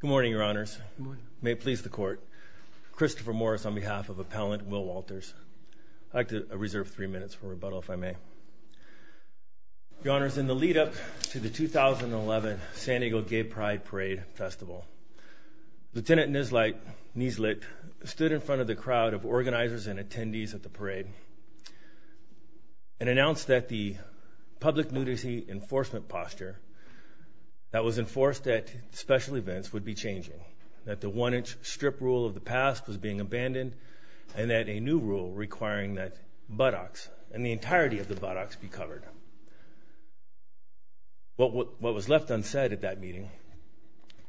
Good morning, Your Honors. May it please the Court. Christopher Morris on behalf of Appellant Will Walters. I'd like to reserve three minutes for rebuttal, if I may. Your Honors, in the lead-up to the 2011 San Diego Gay Pride Parade Festival, Lieutenant Nieslit stood in front of the crowd of organizers and attendees at the parade and announced that the public nudity enforcement posture that was enforced at special events would be changing, that the one-inch strip rule of the past was being abandoned, and that a new rule requiring that buttocks and the entirety of the buttocks be covered. What was left unsaid at that meeting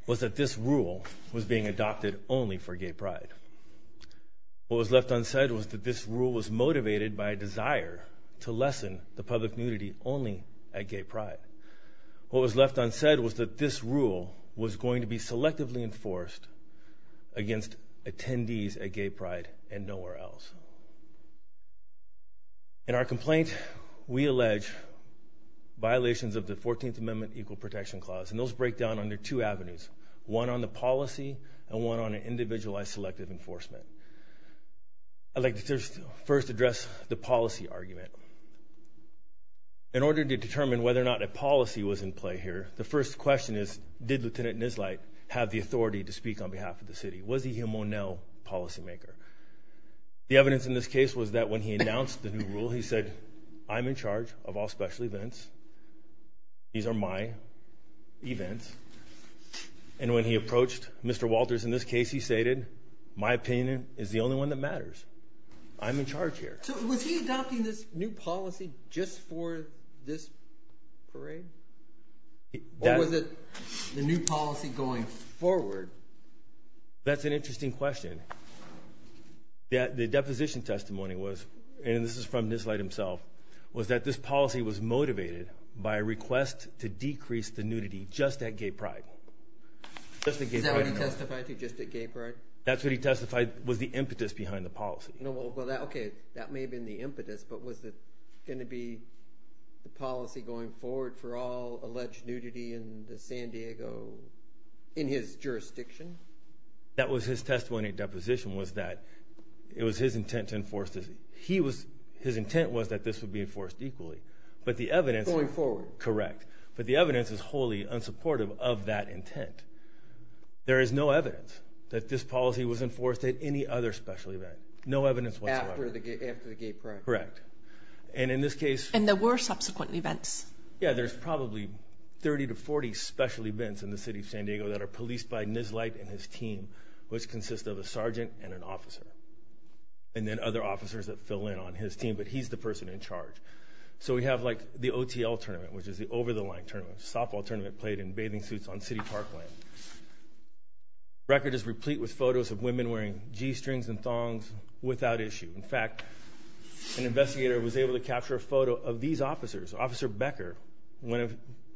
was that this rule was being adopted only for gay pride. What was left unsaid was that this rule was motivated by a desire to lessen the public nudity only at gay pride. What was left unsaid was that this rule was going to be selectively enforced against attendees at gay pride and nowhere else. In our complaint, we allege violations of the 14th Amendment Equal Protection Clause, and those break down under two avenues, one on the policy and one on an individualized selective enforcement. I'd like to first address the policy argument. In order to determine whether or not a policy was in play here, the first question is, did Lieutenant Nieslit have the authority to speak on behalf of the city? Was he a Monell policymaker? The evidence in this case was that when he announced the new rule, he said, I'm in charge of all special events. These are my events. And when he approached Mr. Walters in this case, he stated, my opinion is the only one that matters. I'm in charge here. So was he adopting this new policy just for this parade? Or was it the new policy going forward? That's an interesting question. The deposition testimony was, and this is from Nieslit himself, was that this policy was motivated by a request to decrease the nudity just at Gay Pride. Is that what he testified to, just at Gay Pride? That's what he testified, was the impetus behind the policy. Okay, that may have been the impetus, but was it going to be the policy going forward for all alleged nudity in the San Diego, in his jurisdiction? That was his testimony deposition, was that it was his intent to enforce this. His intent was that this would be enforced equally. But the evidence... Going forward. Correct. But the evidence is wholly unsupportive of that intent. There is no evidence that this policy was enforced at any other special event. No evidence whatsoever. After the Gay Pride. Correct. And in this case... And there were subsequent events. Yeah, there's probably 30 to 40 special events in the city of San Diego that are policed by Nieslit and his team, which consists of a sergeant and an officer. And then other officers that fill in on his team, but he's the person in charge. So we have the OTL tournament, which is the over-the-line tournament, softball tournament played in bathing suits on city park land. Record is replete with photos of women wearing G-strings and thongs without issue. In fact, an investigator was able to capture a photo of these officers, Officer Becker, a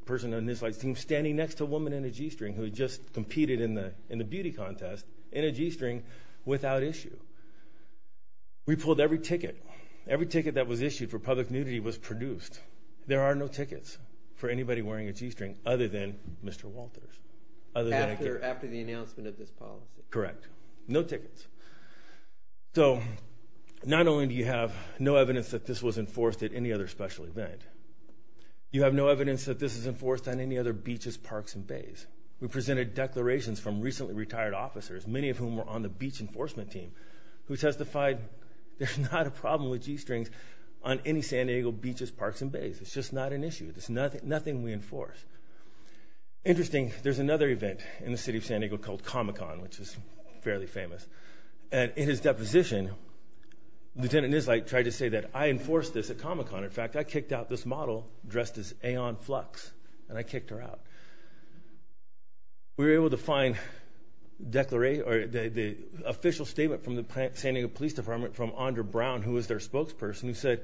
person on Nieslit's team, standing next to a woman in a G-string who had just competed in the beauty contest, in was issued for public nudity, was produced. There are no tickets for anybody wearing a G-string other than Mr. Walters. After the announcement of this policy. Correct. No tickets. So not only do you have no evidence that this was enforced at any other special event, you have no evidence that this is enforced on any other beaches, parks, and bays. We presented declarations from recently retired officers, many of whom were on the beach enforcement team, who testified there's not a problem with G-strings on any San Diego beaches, parks, and bays. It's just not an issue. There's nothing we enforce. Interesting, there's another event in the city of San Diego called Comic-Con, which is fairly famous. And in his deposition, Lieutenant Nieslit tried to say that I enforced this at Comic-Con. In fact, I kicked out this model dressed as Aeon Flux, and I kicked her out. We were able to find the official statement from the San Diego Police Department from Andre Brown, who was their spokesperson, who said,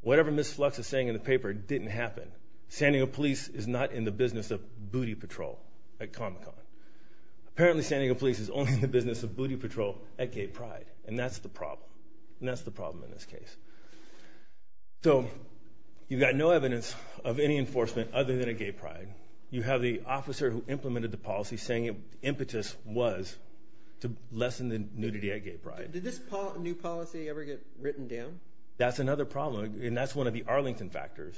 whatever Ms. Flux is saying in the paper didn't happen. San Diego Police is not in the business of booty patrol at Comic-Con. Apparently, San Diego Police is only in the business of booty patrol at Gay Pride. And that's the problem. And that's the problem in this case. So, you've got no evidence of any enforcement other than at Gay Pride. You have the officer who implemented the policy saying impetus was to lessen the nudity at Gay Pride. Did this new policy ever get written down? That's another problem, and that's one of the Arlington factors.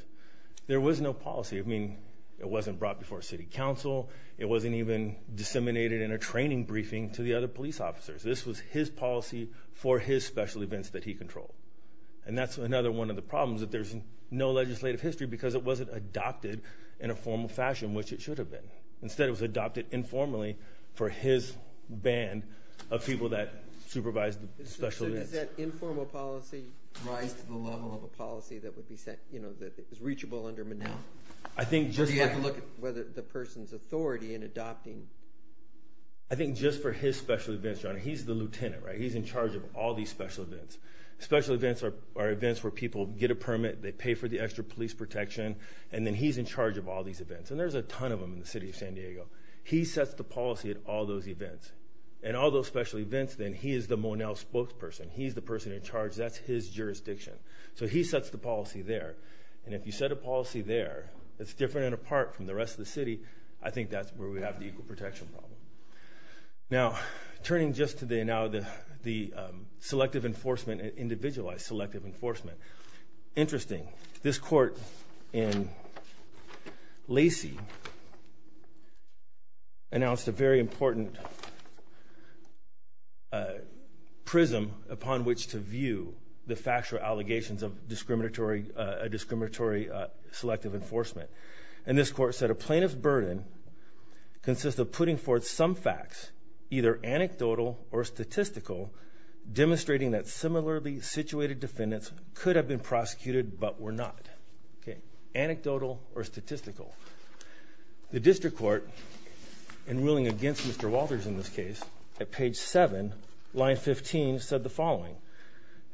There was no policy. I mean, it wasn't brought before city council. It wasn't even disseminated in a training briefing to the other police officers. This was his policy for his special events that he controlled. And that's another one of the problems, that there's no legislative history because it wasn't adopted in a formal fashion, which it should have been. Instead, it was adopted informally for his band of people that supervised the special events. So, does that informal policy rise to the level of a policy that would be, you know, reachable under Mnuchin? I think just— Do you have to look at whether the person's authority in adopting— I think just for his special events, John, he's the lieutenant, right? He's in charge of all these special events. Special events are events where people get a permit, they pay for the extra police protection, and then he's in charge of all these events. And there's a ton of them in the city of San Diego. He sets the policy at all those events. And all those special events, then, he is the Monell spokesperson. He's the person in charge. That's his jurisdiction. So he sets the policy there. And if you set a policy there that's different and apart from the rest of the city, I think that's where we have the equal protection problem. Now, turning just to the selective enforcement, individualized selective enforcement. Interesting. This court in Lacey announced a very important prism upon which to view the factual allegations of discriminatory selective enforcement. And this court said, a plaintiff's burden consists of putting forth some facts, either anecdotal or statistical, demonstrating that similarly situated defendants could have been prosecuted but were not. Okay. Anecdotal or statistical. The district court, in ruling against Mr. Walters in this case, at page 7, line 15, said the following.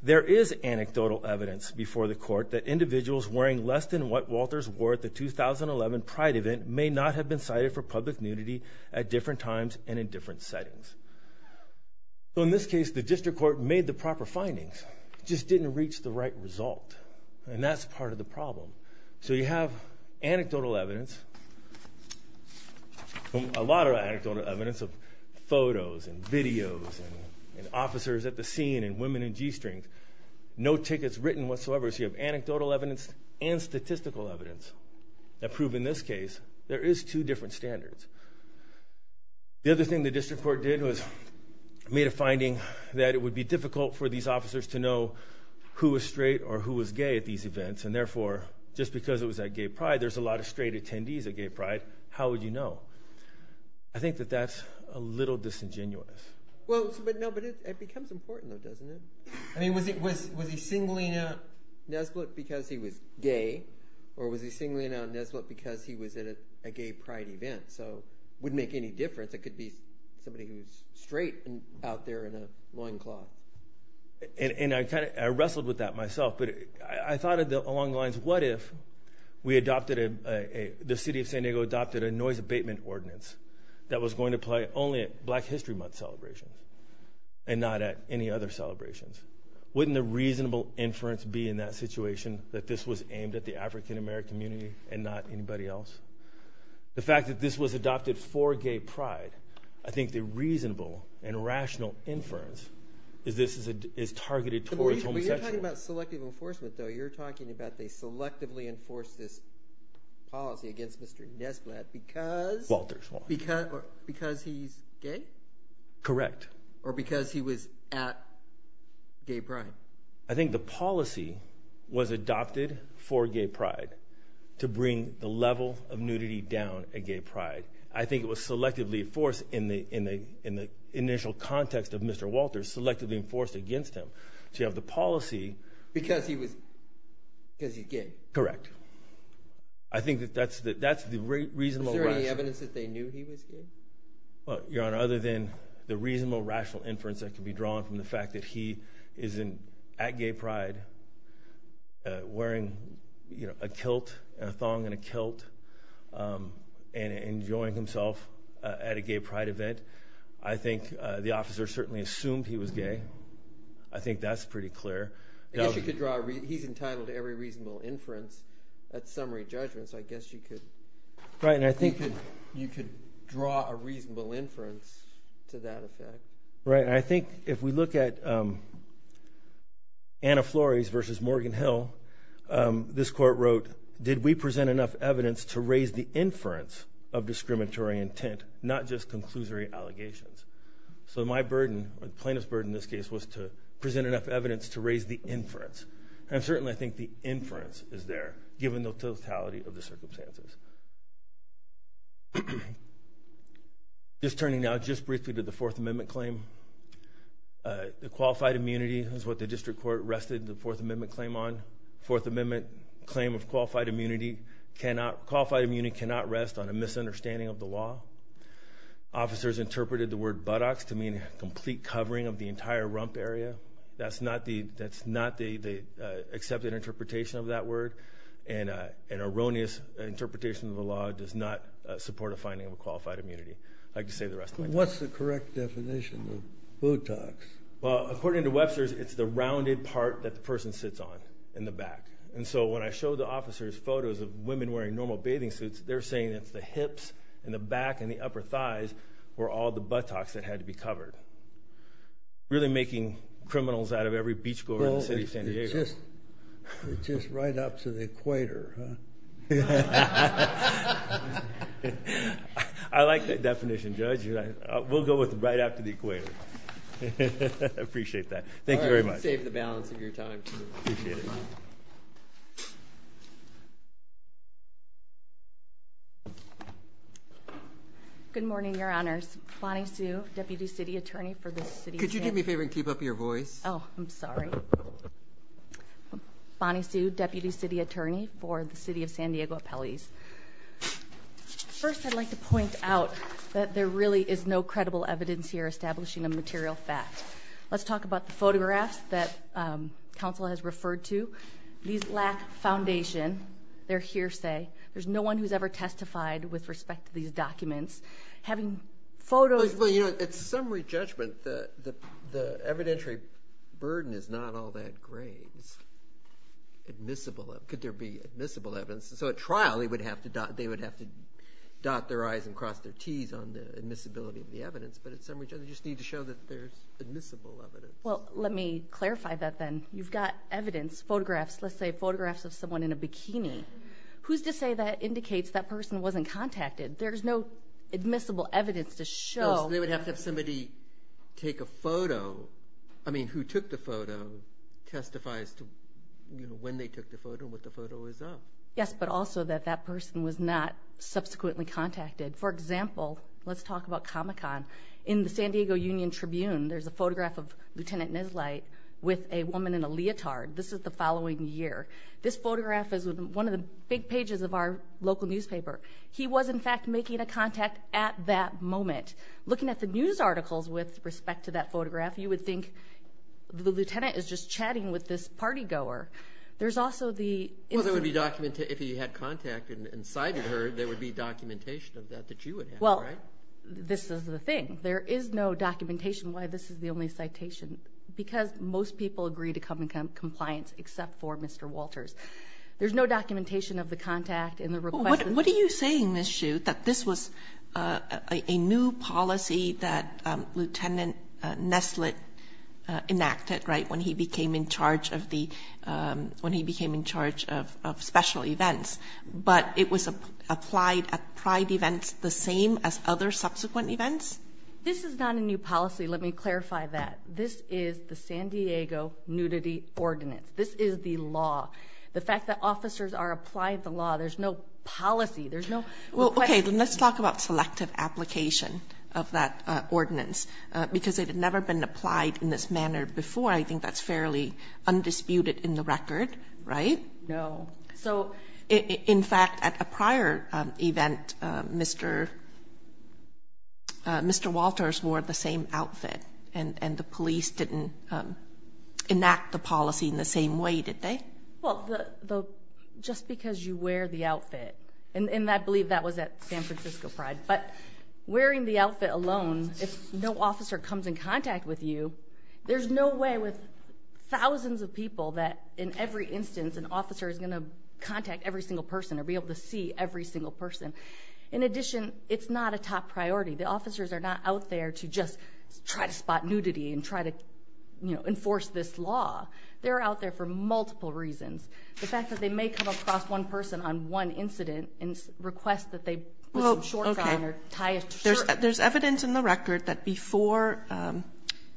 There is anecdotal evidence before the court that individuals wearing less than what Walters wore at the 2011 Pride event may not have been cited for public nudity at different times and in different settings. So in this case, the district court made the proper findings. It just didn't reach the right result. And that's part of the problem. So you have anecdotal evidence, a lot of anecdotal evidence of photos and videos and officers at the scene and women in g-strings. No tickets written whatsoever. So you have anecdotal evidence and statistical evidence that prove, in this case, there is two different standards. The other thing the district court did was made a finding that it would be difficult for these officers to know who was straight or who was gay at these events. And therefore, just because it was at Gay Pride, there's a lot of straight attendees at Gay Pride. How would you know? I think that that's a little disingenuous. Well, but it becomes important though, doesn't it? I mean, was he singling out Nesbitt because he was gay? Or was he singling out Nesbitt because he was at a Gay Pride event? So it wouldn't make any difference. It could be somebody who's straight and out there in a loincloth. And I wrestled with that myself. But I thought along the lines, what if we adopted, the city of San Diego adopted a noise abatement ordinance that was going to play only at Black History Month celebrations and not at any other celebrations? Wouldn't the reasonable inference be in that situation that this was aimed at the African American community and not anybody else? The fact that this was adopted for Gay Pride, I think the reasonable and rational inference is this is targeted towards homosexuals. But you're talking about selective enforcement though. You're talking about they selectively enforce this policy against Mr. Nesbitt because he's gay? Correct. Or because he was at Gay Pride? I think the policy was adopted for Gay Pride to bring the level of nudity down at Gay Pride. I think it was selectively enforced in the initial context of Mr. Walters, selectively because he's gay? Correct. Is there any evidence that they knew he was gay? Your Honor, other than the reasonable rational inference that can be drawn from the fact that he is at Gay Pride wearing a kilt and a thong and a kilt and enjoying himself at a Gay Pride event, I think the he's entitled to every reasonable inference at summary judgments. I guess you could draw a reasonable inference to that effect. Right. I think if we look at Anna Flores versus Morgan Hill, this court wrote, did we present enough evidence to raise the inference of discriminatory intent, not just conclusory allegations? So my burden, plaintiff's burden in this case, was to present enough evidence to raise the inference. And certainly, I think the inference is there, given the totality of the circumstances. Just turning now just briefly to the Fourth Amendment claim, the qualified immunity is what the district court rested the Fourth Amendment claim on. Fourth Amendment claim of qualified immunity cannot rest on a misunderstanding of the law. Officers interpreted the word buttocks to mean a complete covering of the bump area. That's not the accepted interpretation of that word. And an erroneous interpretation of the law does not support a finding of a qualified immunity. I'd like to save the rest of my time. What's the correct definition of buttocks? Well, according to Webster's, it's the rounded part that the person sits on in the back. And so when I showed the officers photos of women wearing normal bathing suits, they're saying it's the hips and the back and the upper thighs were all the buttocks that had to be covered. Really making criminals out of every beach goer in the city of San Diego. Well, it's just right up to the equator. I like that definition, Judge. We'll go with right up to the equator. I appreciate that. Thank you very much. You saved the balance of your time. Good morning, Your Honors. Bonnie Sue, Deputy City Attorney for the City of San Diego. Could you do me a favor and keep up your voice? Oh, I'm sorry. Bonnie Sue, Deputy City Attorney for the City of San Diego Appellees. First, I'd like to point out that there really is no credible evidence here establishing a material fact. Let's talk about the photographs that counsel has referred to. These lack foundation. They're hearsay. There's no one who's ever testified with respect to these documents. Having photos... Well, you know, at summary judgment, the evidentiary burden is not all that grave. It's admissible. Could there be admissible evidence? So at trial, they would have to dot their I's and cross their T's on the admissibility of the documents. They need to show that there's admissible evidence. Well, let me clarify that then. You've got evidence, photographs. Let's say photographs of someone in a bikini. Who's to say that indicates that person wasn't contacted? There's no admissible evidence to show... They would have to have somebody take a photo. I mean, who took the photo testifies to when they took the photo and what the photo is of. Yes, but also that that person was not subsequently contacted. For example, let's talk about Comic-Con. In the San Diego Union Tribune, there's a photograph of Lieutenant Neslight with a woman in a leotard. This is the following year. This photograph is one of the big pages of our local newspaper. He was in fact making a contact at that moment. Looking at the news articles with respect to that photograph, you would think the lieutenant is just chatting with this party goer. There's no documentation of that that you would have. Well, this is the thing. There is no documentation why this is the only citation because most people agree to Comic-Con compliance except for Mr. Walters. There's no documentation of the contact and the request. What are you saying, Ms. Shue, that this was a new policy that Lieutenant Neslight enacted when he became in charge of special events, but it was applied at pride events the same as other subsequent events? This is not a new policy. Let me clarify that. This is the San Diego Nudity Ordinance. This is the law. The fact that officers are applying the law, there's no policy. There's no request. Okay, let's talk about selective application of that ordinance because it had never been applied in this manner before. I think that's fairly undisputed in the record, right? No. In fact, at a prior event, Mr. Walters wore the same outfit and the police didn't enact the policy in the same way, did they? Well, just because you wear the outfit and I believe that was at San Francisco Pride, but wearing the outfit alone, if no officer comes in contact with you, there's no way with thousands of people that in every instance an officer is going to contact every single person or be able to see every single person. In addition, it's not a top priority. The officers are not out there to just try to spot nudity and try to enforce this law. They're out there for multiple reasons. The fact that they may come across one person on one incident and request that they put some shorts on or tie a shirt. There's evidence in the record that before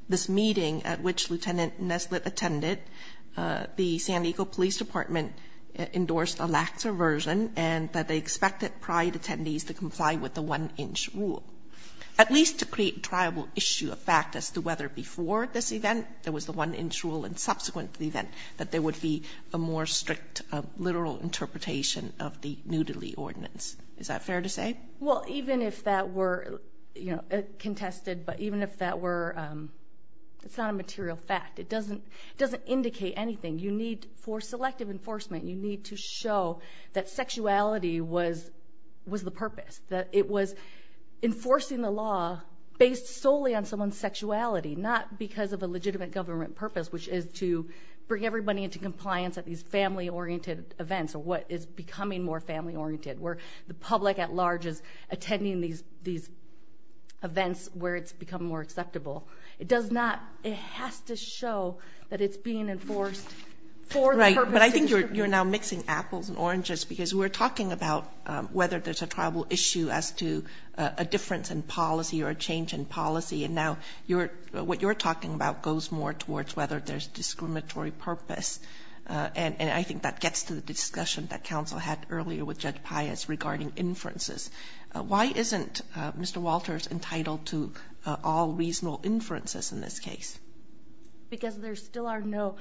this meeting at which Lieutenant Neslett attended, the San Diego Police Department endorsed a lax aversion and that they expected Pride attendees to comply with the one-inch rule, at least to create a triable issue of fact as to whether before this event there was the one-inch rule and subsequently then that there would be a more strict literal interpretation of the nudity ordinance. Is that fair to say? Well, even if that were contested, but even if that were, it's not a material fact. It doesn't indicate anything. You need, for selective enforcement, you need to show that sexuality was the purpose. That it was enforcing the law based solely on someone's sexuality, not because of a legitimate government purpose, which is to bring everybody into compliance at these family-oriented events, or what is becoming more family-oriented, where the public at large is attending these events where it's become more acceptable. It does not, it has to show that it's being enforced for the purpose of distributing. Right, but I think you're now mixing apples and oranges because we're talking about whether there's a triable issue as to a difference in policy or a change in policy, and now what you're talking about goes more towards whether there's discriminatory purpose, and I think that gets to the discussion that counsel had earlier with Judge Pius regarding inferences. Why isn't Mr. Walters entitled to all reasonable inferences in this case? Because there still are no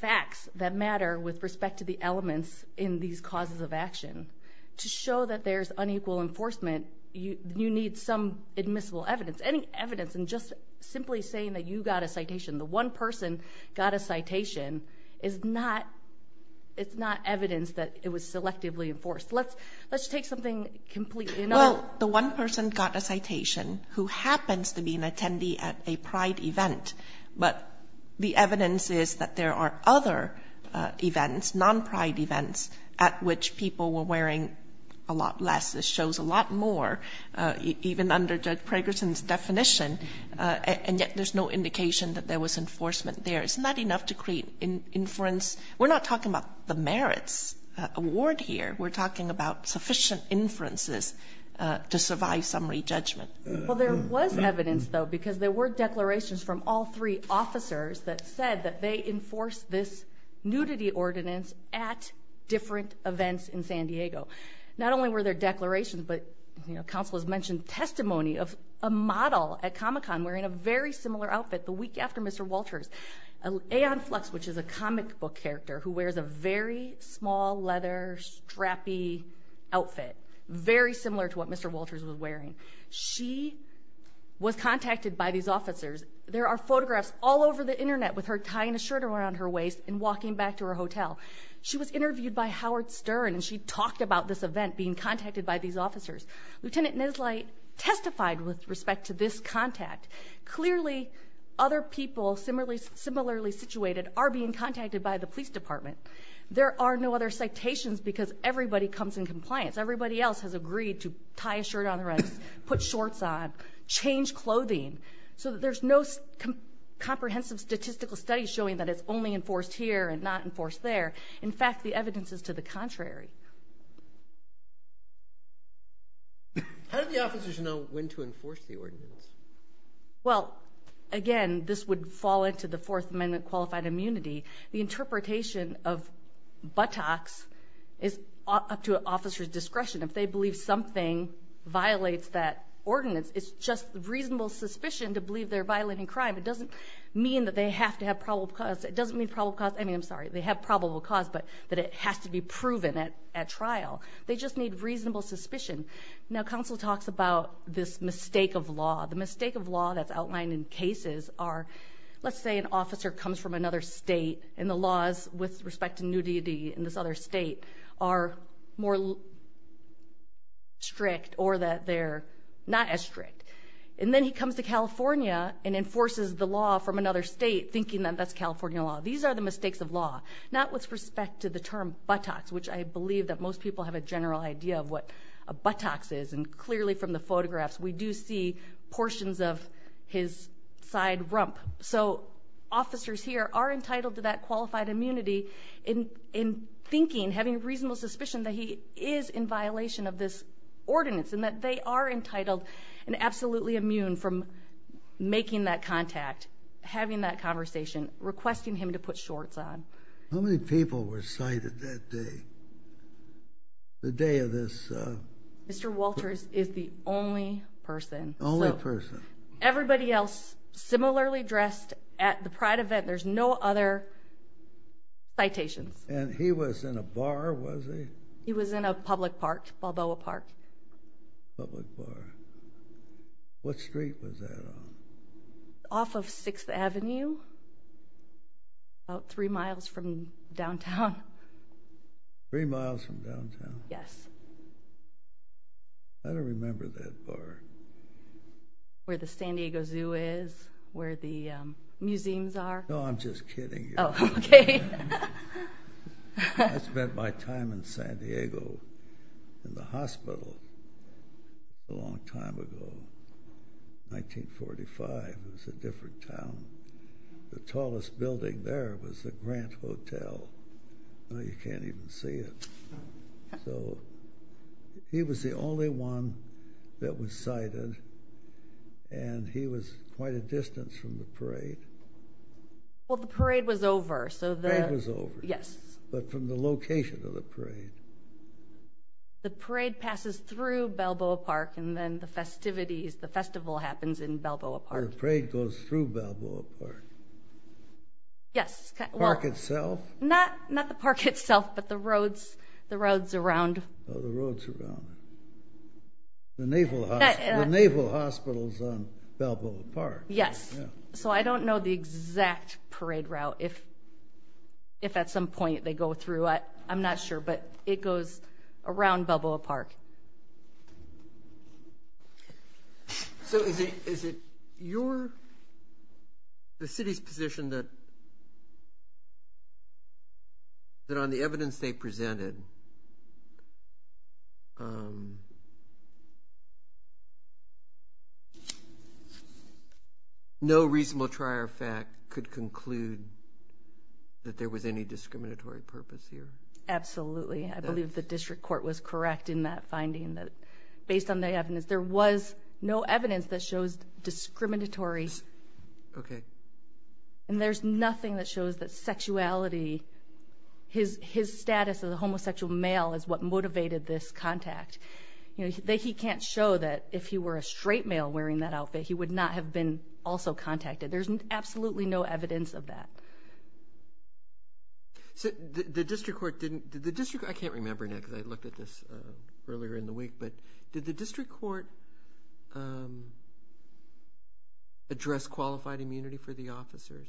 facts that matter with respect to the elements in these causes of action. To show that there's unequal enforcement, you need some admissible evidence. Any evidence and just simply saying that you got a citation, the one person got a citation, is not, it's not evidence that it was selectively enforced. Let's take something completely, you know. Well, the one person got a citation who happens to be an attendee at a pride event, but the evidence is that there are other events, non-pride events, at which people were wearing a lot more, even under Judge Pregerson's definition, and yet there's no indication that there was enforcement there. It's not enough to create inference. We're not talking about the merits award here. We're talking about sufficient inferences to survive summary judgment. Well, there was evidence, though, because there were declarations from all three officers that said that they enforced this nudity ordinance at different events in San Diego. Not only were there declarations, but, you know, counsel has mentioned testimony of a model at Comic-Con wearing a very similar outfit the week after Mr. Walters. Aeon Flux, which is a comic book character who wears a very small, leather, strappy outfit, very similar to what Mr. Walters was wearing. She was contacted by these officers. There are photographs all over the internet with her tying a shirt around her waist and walking back to her hotel. She was interviewed by Howard Stern, and she talked about this event, being contacted by these officers. Lieutenant Neslite testified with respect to this contact. Clearly, other people similarly situated are being contacted by the police department. There are no other citations because everybody comes in compliance. Everybody else has agreed to tie a shirt around their waist, put shorts on, change clothing, so that there's no comprehensive statistical study showing that it's only enforced here and not enforced there. In fact, the evidence is to the contrary. How did the officers know when to enforce the ordinance? Well, again, this would fall into the Fourth Amendment qualified immunity. The interpretation of buttocks is up to an officer's discretion. If they believe something violates that ordinance, it's just reasonable suspicion to believe they're violating crime. It doesn't mean that they have to have probable cause. It doesn't mean probable cause. I mean, I'm sorry. They have probable cause, but that it has to be proven at trial. They just need reasonable suspicion. Now, counsel talks about this mistake of law. The mistake of law that's outlined in cases are, let's say, an officer comes from another state, and the laws with respect to nudity in this other state are more strict or that they're not as strict. Then he comes to California and enforces the law from another state, thinking that that's California law. These are the mistakes of law, not with respect to the term buttocks, which I believe that most people have a general idea of what a buttocks is. Clearly, from the photographs, we do see portions of his side rump. Officers here are entitled to that qualified immunity in thinking, having reasonable suspicion, that he is in violation of this ordinance and that they are entitled and absolutely immune from making that contact, having that conversation, requesting him to put shorts on. How many people were cited that day? The day of this? Mr. Walters is the only person. Only person. Everybody else, similarly dressed at the Pride event. There's no other citations. He was in a bar, was he? He was in a public park, Balboa Park. Public park. What street was that on? Off of 6th Avenue, about three miles from downtown. Three miles from downtown? Yes. I don't remember that bar. Where the San Diego Zoo is, where the museums are. No, I'm just kidding you. Oh, okay. I spent my time in San Diego in the hospital a long time ago. 1945, it was a different town. The tallest building there was the Grant Hotel. You can't even see it. So, he was the only one that was cited and he was quite a distance from the parade. Well, the parade was over. The parade was over? Yes. But from the location of the parade? The parade passes through Balboa Park and then the festivities, the festival happens in Balboa Park. The parade goes through Balboa Park? Yes. The park itself? Not the park itself, but the roads around. Oh, the roads around. The Naval Hospital is on Balboa Park. Yes. So, I don't know the exact parade route, if at some point they go through. I'm not sure, but it goes around Balboa Park. So, is it your, the city's position that on the evidence they presented, no reasonable trier of fact could conclude that there was any discriminatory purpose here? Absolutely. I believe the district court was correct in that finding that based on the evidence, there was no evidence that shows discriminatory. Okay. And there's nothing that shows that sexuality, his status as a homosexual male is what motivated this contact. He can't show that if he were a straight male wearing that outfit, he would not have been also contacted. There's absolutely no evidence of that. So, the district court didn't, I can't remember now because I looked at this earlier in the week, but did the district court address qualified immunity for the officers?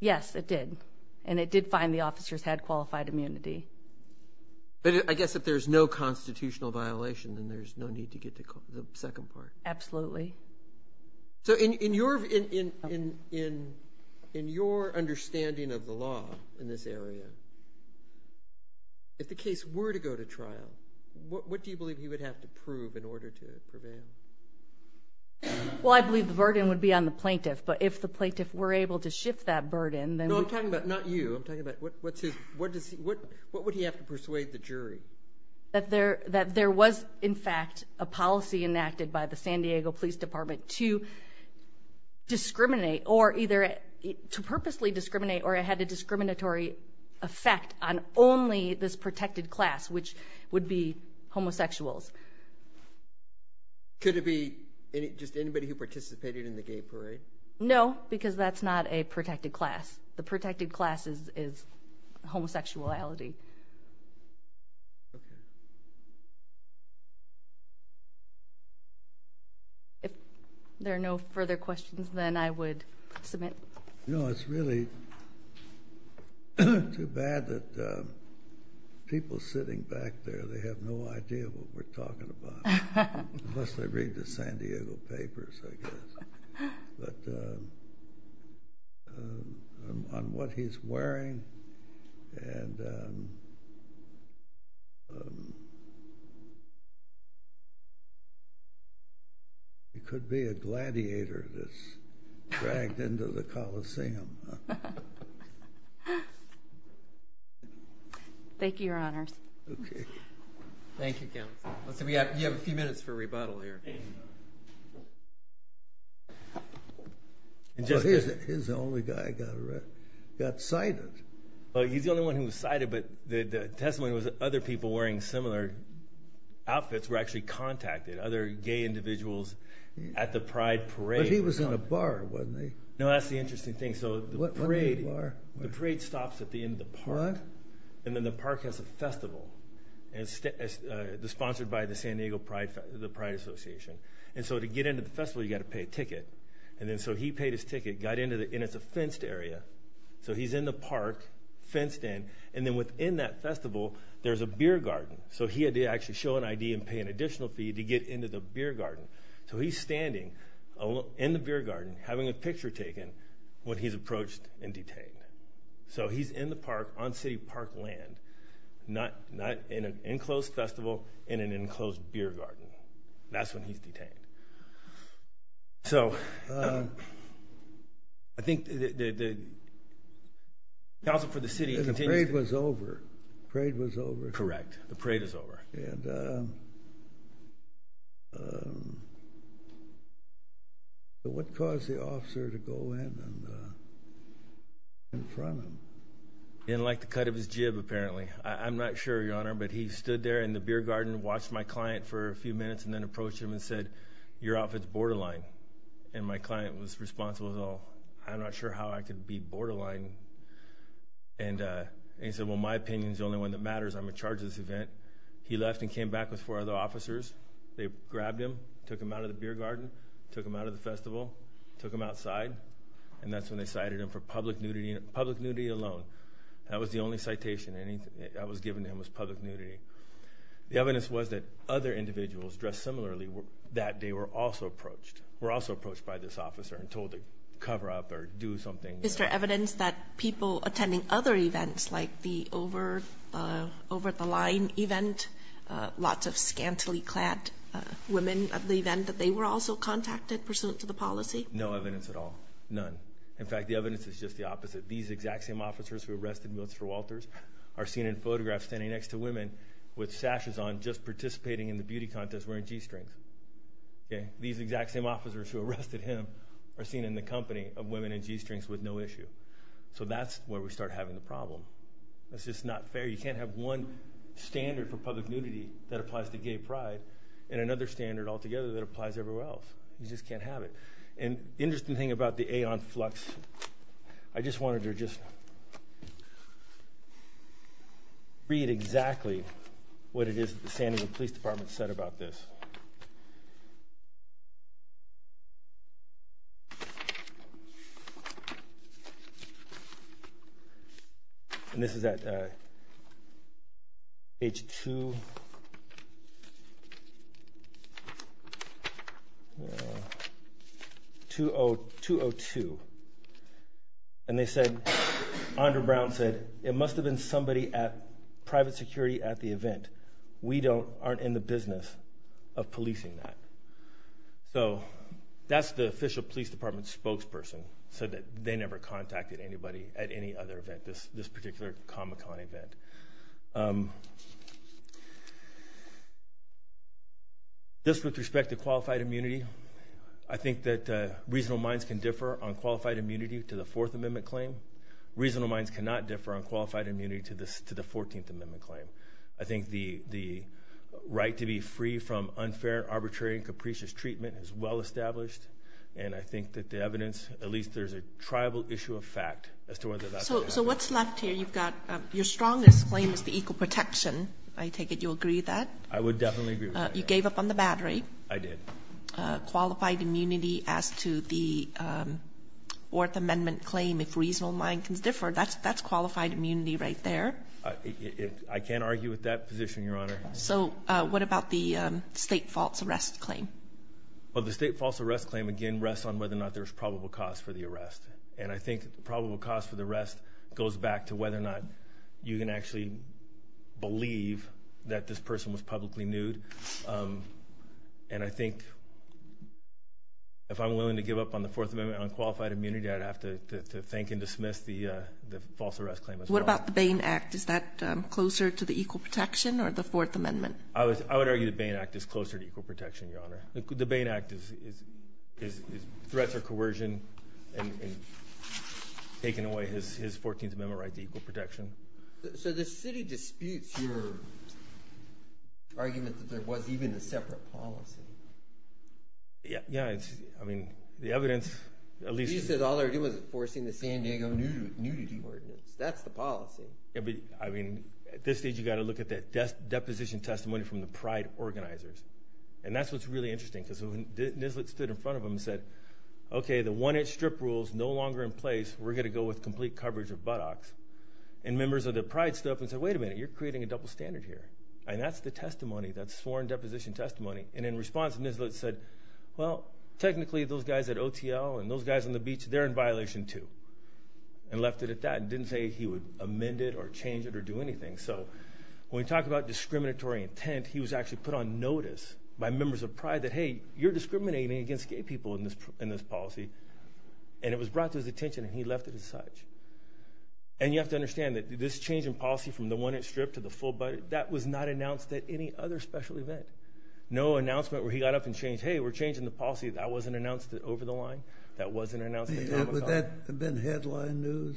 Yes, it did. And it did find the officers had qualified immunity. But I guess if there's no constitutional violation, then there's no need to get to the second part. Absolutely. So, in your understanding of the law in this area, if the case were to go to trial, what do you believe he would have to prove in order to prevail? Well, I believe the burden would be on the plaintiff, but if the plaintiff were able to shift that burden, then... No, I'm talking about, not you, I'm talking about what would he have to persuade the jury? That there was, in fact, a policy enacted by the San Diego Police Department to discriminate or either to purposely discriminate or it had a discriminatory effect on only this protected class, which would be homosexuals. Could it be just anybody who participated in the gay parade? No, because that's not a protected class. The protected class is homosexuality. If there are no further questions, then I would submit. No, it's really too bad that people sitting back there, they have no idea what we're talking about. Unless they read the San Diego papers, I guess. But on what he's wearing and... He could be a gladiator that's dragged into the Coliseum. Thank you, Your Honors. Okay. Thank you, Counsel. We have a few minutes for rebuttal here. His only guy got sighted. He's the only one who was sighted, but the testimony was that other people wearing similar outfits were actually contacted, other gay individuals at the Pride parade. But he was in a bar, wasn't he? No, that's the interesting thing. What kind of bar? The parade stops at the end of the park. And then the park has a festival sponsored by the San Diego Pride Association. And so to get into the festival, you've got to pay a ticket. And so he paid his ticket, got in, and it's a fenced area. So he's in the park, fenced in. And then within that festival, there's a beer garden. So he had to actually show an ID and pay an additional fee to get into the beer garden. So he's standing in the beer garden, having a picture taken, when he's approached and detained. So he's in the park, on city park land. Not in an enclosed festival, in an enclosed beer garden. That's when he's detained. So I think the Council for the City continues to... The parade was over. The parade was over. Correct. The parade is over. And what caused the officer to go in in front of him? He didn't like the cut of his jib, apparently. I'm not sure, Your Honor. But he stood there in the beer garden, watched my client for a few minutes, and then approached him and said, Your outfit's borderline. And my client was responsible. I'm not sure how I could be borderline. And he said, Well, my opinion is the only one that matters. I'm in charge of this event. He left and came back with four other officers. They grabbed him, took him out of the beer garden, took him out of the festival, took him outside. And that's when they cited him for public nudity alone. That was the only citation. That was given to him was public nudity. The evidence was that other individuals dressed similarly that day were also approached. Were also approached by this officer and told to cover up or do something. Is there evidence that people attending other events, like the over-the-line event, lots of scantily clad women at the event, that they were also contacted pursuant to the policy? No evidence at all. None. In fact, the evidence is just the opposite. These exact same officers who arrested Mr. Walters are seen in photographs standing next to women with sashes on just participating in the beauty contest wearing G-strings. These exact same officers who arrested him are seen in the company of women in G-strings with no issue. So that's where we start having the problem. That's just not fair. You can't have one standard for public nudity that applies to gay pride and another standard altogether that applies everywhere else. You just can't have it. And the interesting thing about the Aeon Flux, I just wanted to read exactly what it is that the San Diego Police Department said about this. And this is at page 202. And they said, Andre Brown said, it must have been somebody at private security at the event. We aren't in the business of policing that. So that's the official police department spokesperson, said that they never contacted anybody at any other event, this particular Comic-Con event. Just with respect to qualified immunity, I think that reasonable minds can differ on qualified immunity to the Fourth Amendment claim. Reasonable minds cannot differ on qualified immunity to the Fourteenth Amendment claim. I think the right to be free from unfair, arbitrary, and capricious treatment is well established. And I think that the evidence, at least there's a tribal issue of fact as to whether that's what happened. So what's left here? You've got your strongest claim is the equal protection. I take it you agree with that? I would definitely agree with that. You gave up on the battery. I did. Qualified immunity as to the Fourth Amendment claim, if reasonable mind can differ, that's qualified immunity right there. I can't argue with that position, Your Honor. So what about the state false arrest claim? Well, the state false arrest claim, again, rests on whether or not there's probable cause for the arrest. And I think probable cause for the arrest goes back to whether or not you can actually believe that this person was publicly nude. And I think if I'm willing to give up on the Fourth Amendment on qualified immunity, I'd have to thank and dismiss the false arrest claim as well. What about the Bain Act? Is that closer to the equal protection or the Fourth Amendment? I would argue the Bain Act is closer to equal protection, Your Honor. The Bain Act is threats or coercion in taking away his Fourteenth Amendment right to equal protection. So the city disputes your argument that there was even a separate policy. Yeah. I mean, the evidence at least— You said all they were doing was enforcing the San Diego nudity ordinance. That's the policy. Yeah, but, I mean, at this stage, you've got to look at that deposition testimony from the pride organizers. And that's what's really interesting because when Nislet stood in front of them and said, Okay, the one-inch strip rule is no longer in place. We're going to go with complete coverage of buttocks. And members of the pride stood up and said, Wait a minute. You're creating a double standard here. And that's the testimony. That's sworn deposition testimony. And in response, Nislet said, Well, technically, those guys at OTL and those guys on the beach, they're in violation too. And left it at that and didn't say he would amend it or change it or do anything. So when we talk about discriminatory intent, he was actually put on notice by members of pride that, Hey, you're discriminating against gay people in this policy. And it was brought to his attention, and he left it as such. And you have to understand that this change in policy from the one-inch strip to the full buttock, that was not announced at any other special event. No announcement where he got up and changed, Hey, we're changing the policy. That wasn't announced at Over the Line. That wasn't announced at Tomahawk. Would that have been headline news?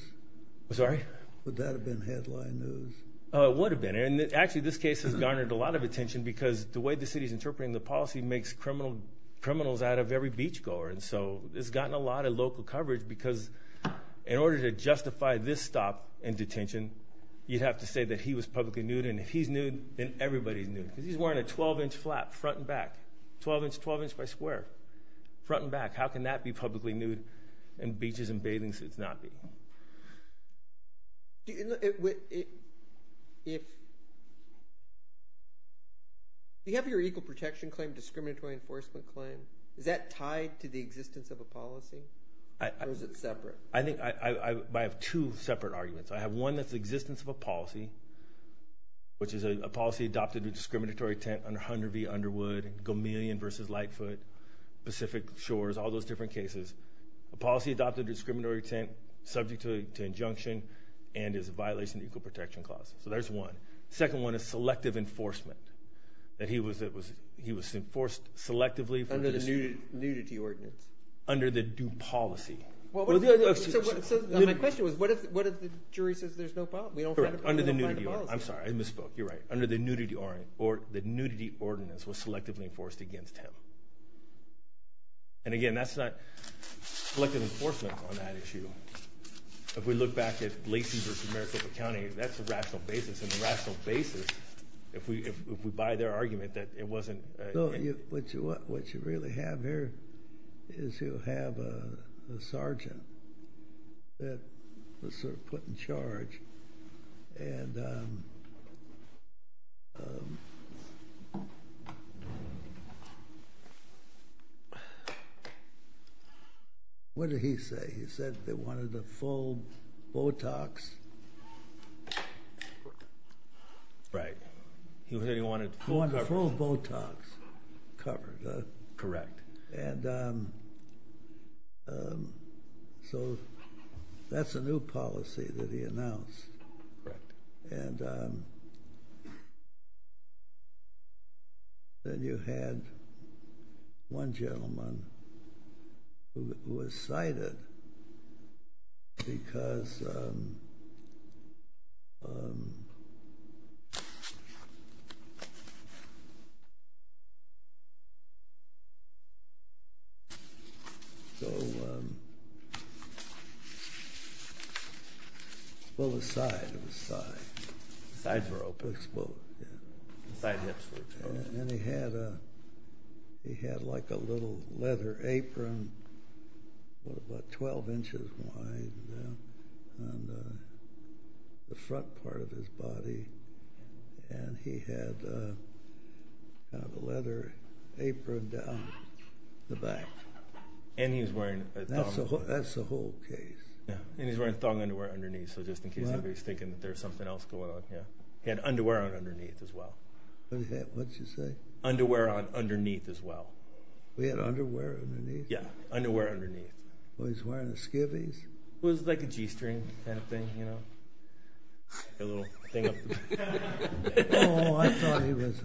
I'm sorry? Would that have been headline news? It would have been. And actually, this case has garnered a lot of attention because the way the city is interpreting the policy makes criminals out of every beachgoer. And so it's gotten a lot of local coverage because in order to justify this stop in detention, you'd have to say that he was publicly nude. And if he's nude, then everybody's nude. Because he's wearing a 12-inch flap front and back, 12 inch by square, front and back. How can that be publicly nude and beaches and bathing suits not be? Do you have your equal protection claim, discriminatory enforcement claim, is that tied to the existence of a policy or is it separate? I have two separate arguments. I have one that's the existence of a policy, which is a policy adopted with discriminatory intent under Hunter v. Underwood, Gomillion v. Lightfoot, Pacific Shores, all those different cases, a policy adopted with discriminatory intent subject to injunction and is a violation of the Equal Protection Clause. So there's one. The second one is selective enforcement, that he was enforced selectively. Under the nudity ordinance. Under the due policy. My question was what if the jury says there's no fault? Under the nudity ordinance. I'm sorry, I misspoke. You're right. Under the nudity ordinance was selectively enforced against him. And, again, that's not selective enforcement on that issue. If we look back at Lacey v. Comerica County, that's a rational basis, and the rational basis, if we buy their argument that it wasn't. What you really have here is you have a sergeant that was put in charge and what did he say? He said they wanted a full Botox. Right. He said he wanted full coverage. He wanted full Botox coverage. Correct. And so that's a new policy that he announced. Correct. And then you had one gentleman who was cited because he was full of side. It was side. Side rope. It was full of, yeah. Side hips were exposed. And he had like a little leather apron about 12 inches wide on the front part of his body, and he had kind of a leather apron down the back. And he was wearing a thong. That's the whole case. And he was wearing thong underwear underneath, so just in case anybody's thinking that there's something else going on. He had underwear underneath as well. What did you say? Underwear underneath as well. He had underwear underneath? Yeah, underwear underneath. Was he wearing a skivvies? It was like a G-string kind of thing, you know. A little thing. Oh, I thought he was.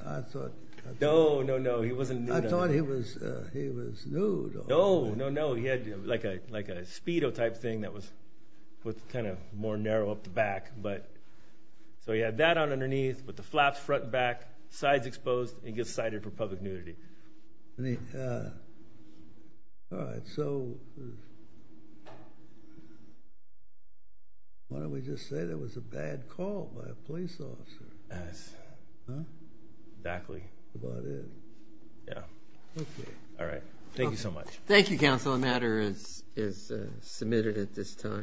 No, no, no. He wasn't nude. I thought he was nude. No, no, no. He had like a Speedo type thing that was kind of more narrow up the back. So he had that on underneath with the flaps front and back, sides exposed, and gets cited for public nudity. All right. So why don't we just say that was a bad call by a police officer? Yes. Huh? Exactly. That's about it. Yeah. Okay. All right. Thank you so much. Thank you, Counsel. The matter is submitted at this time.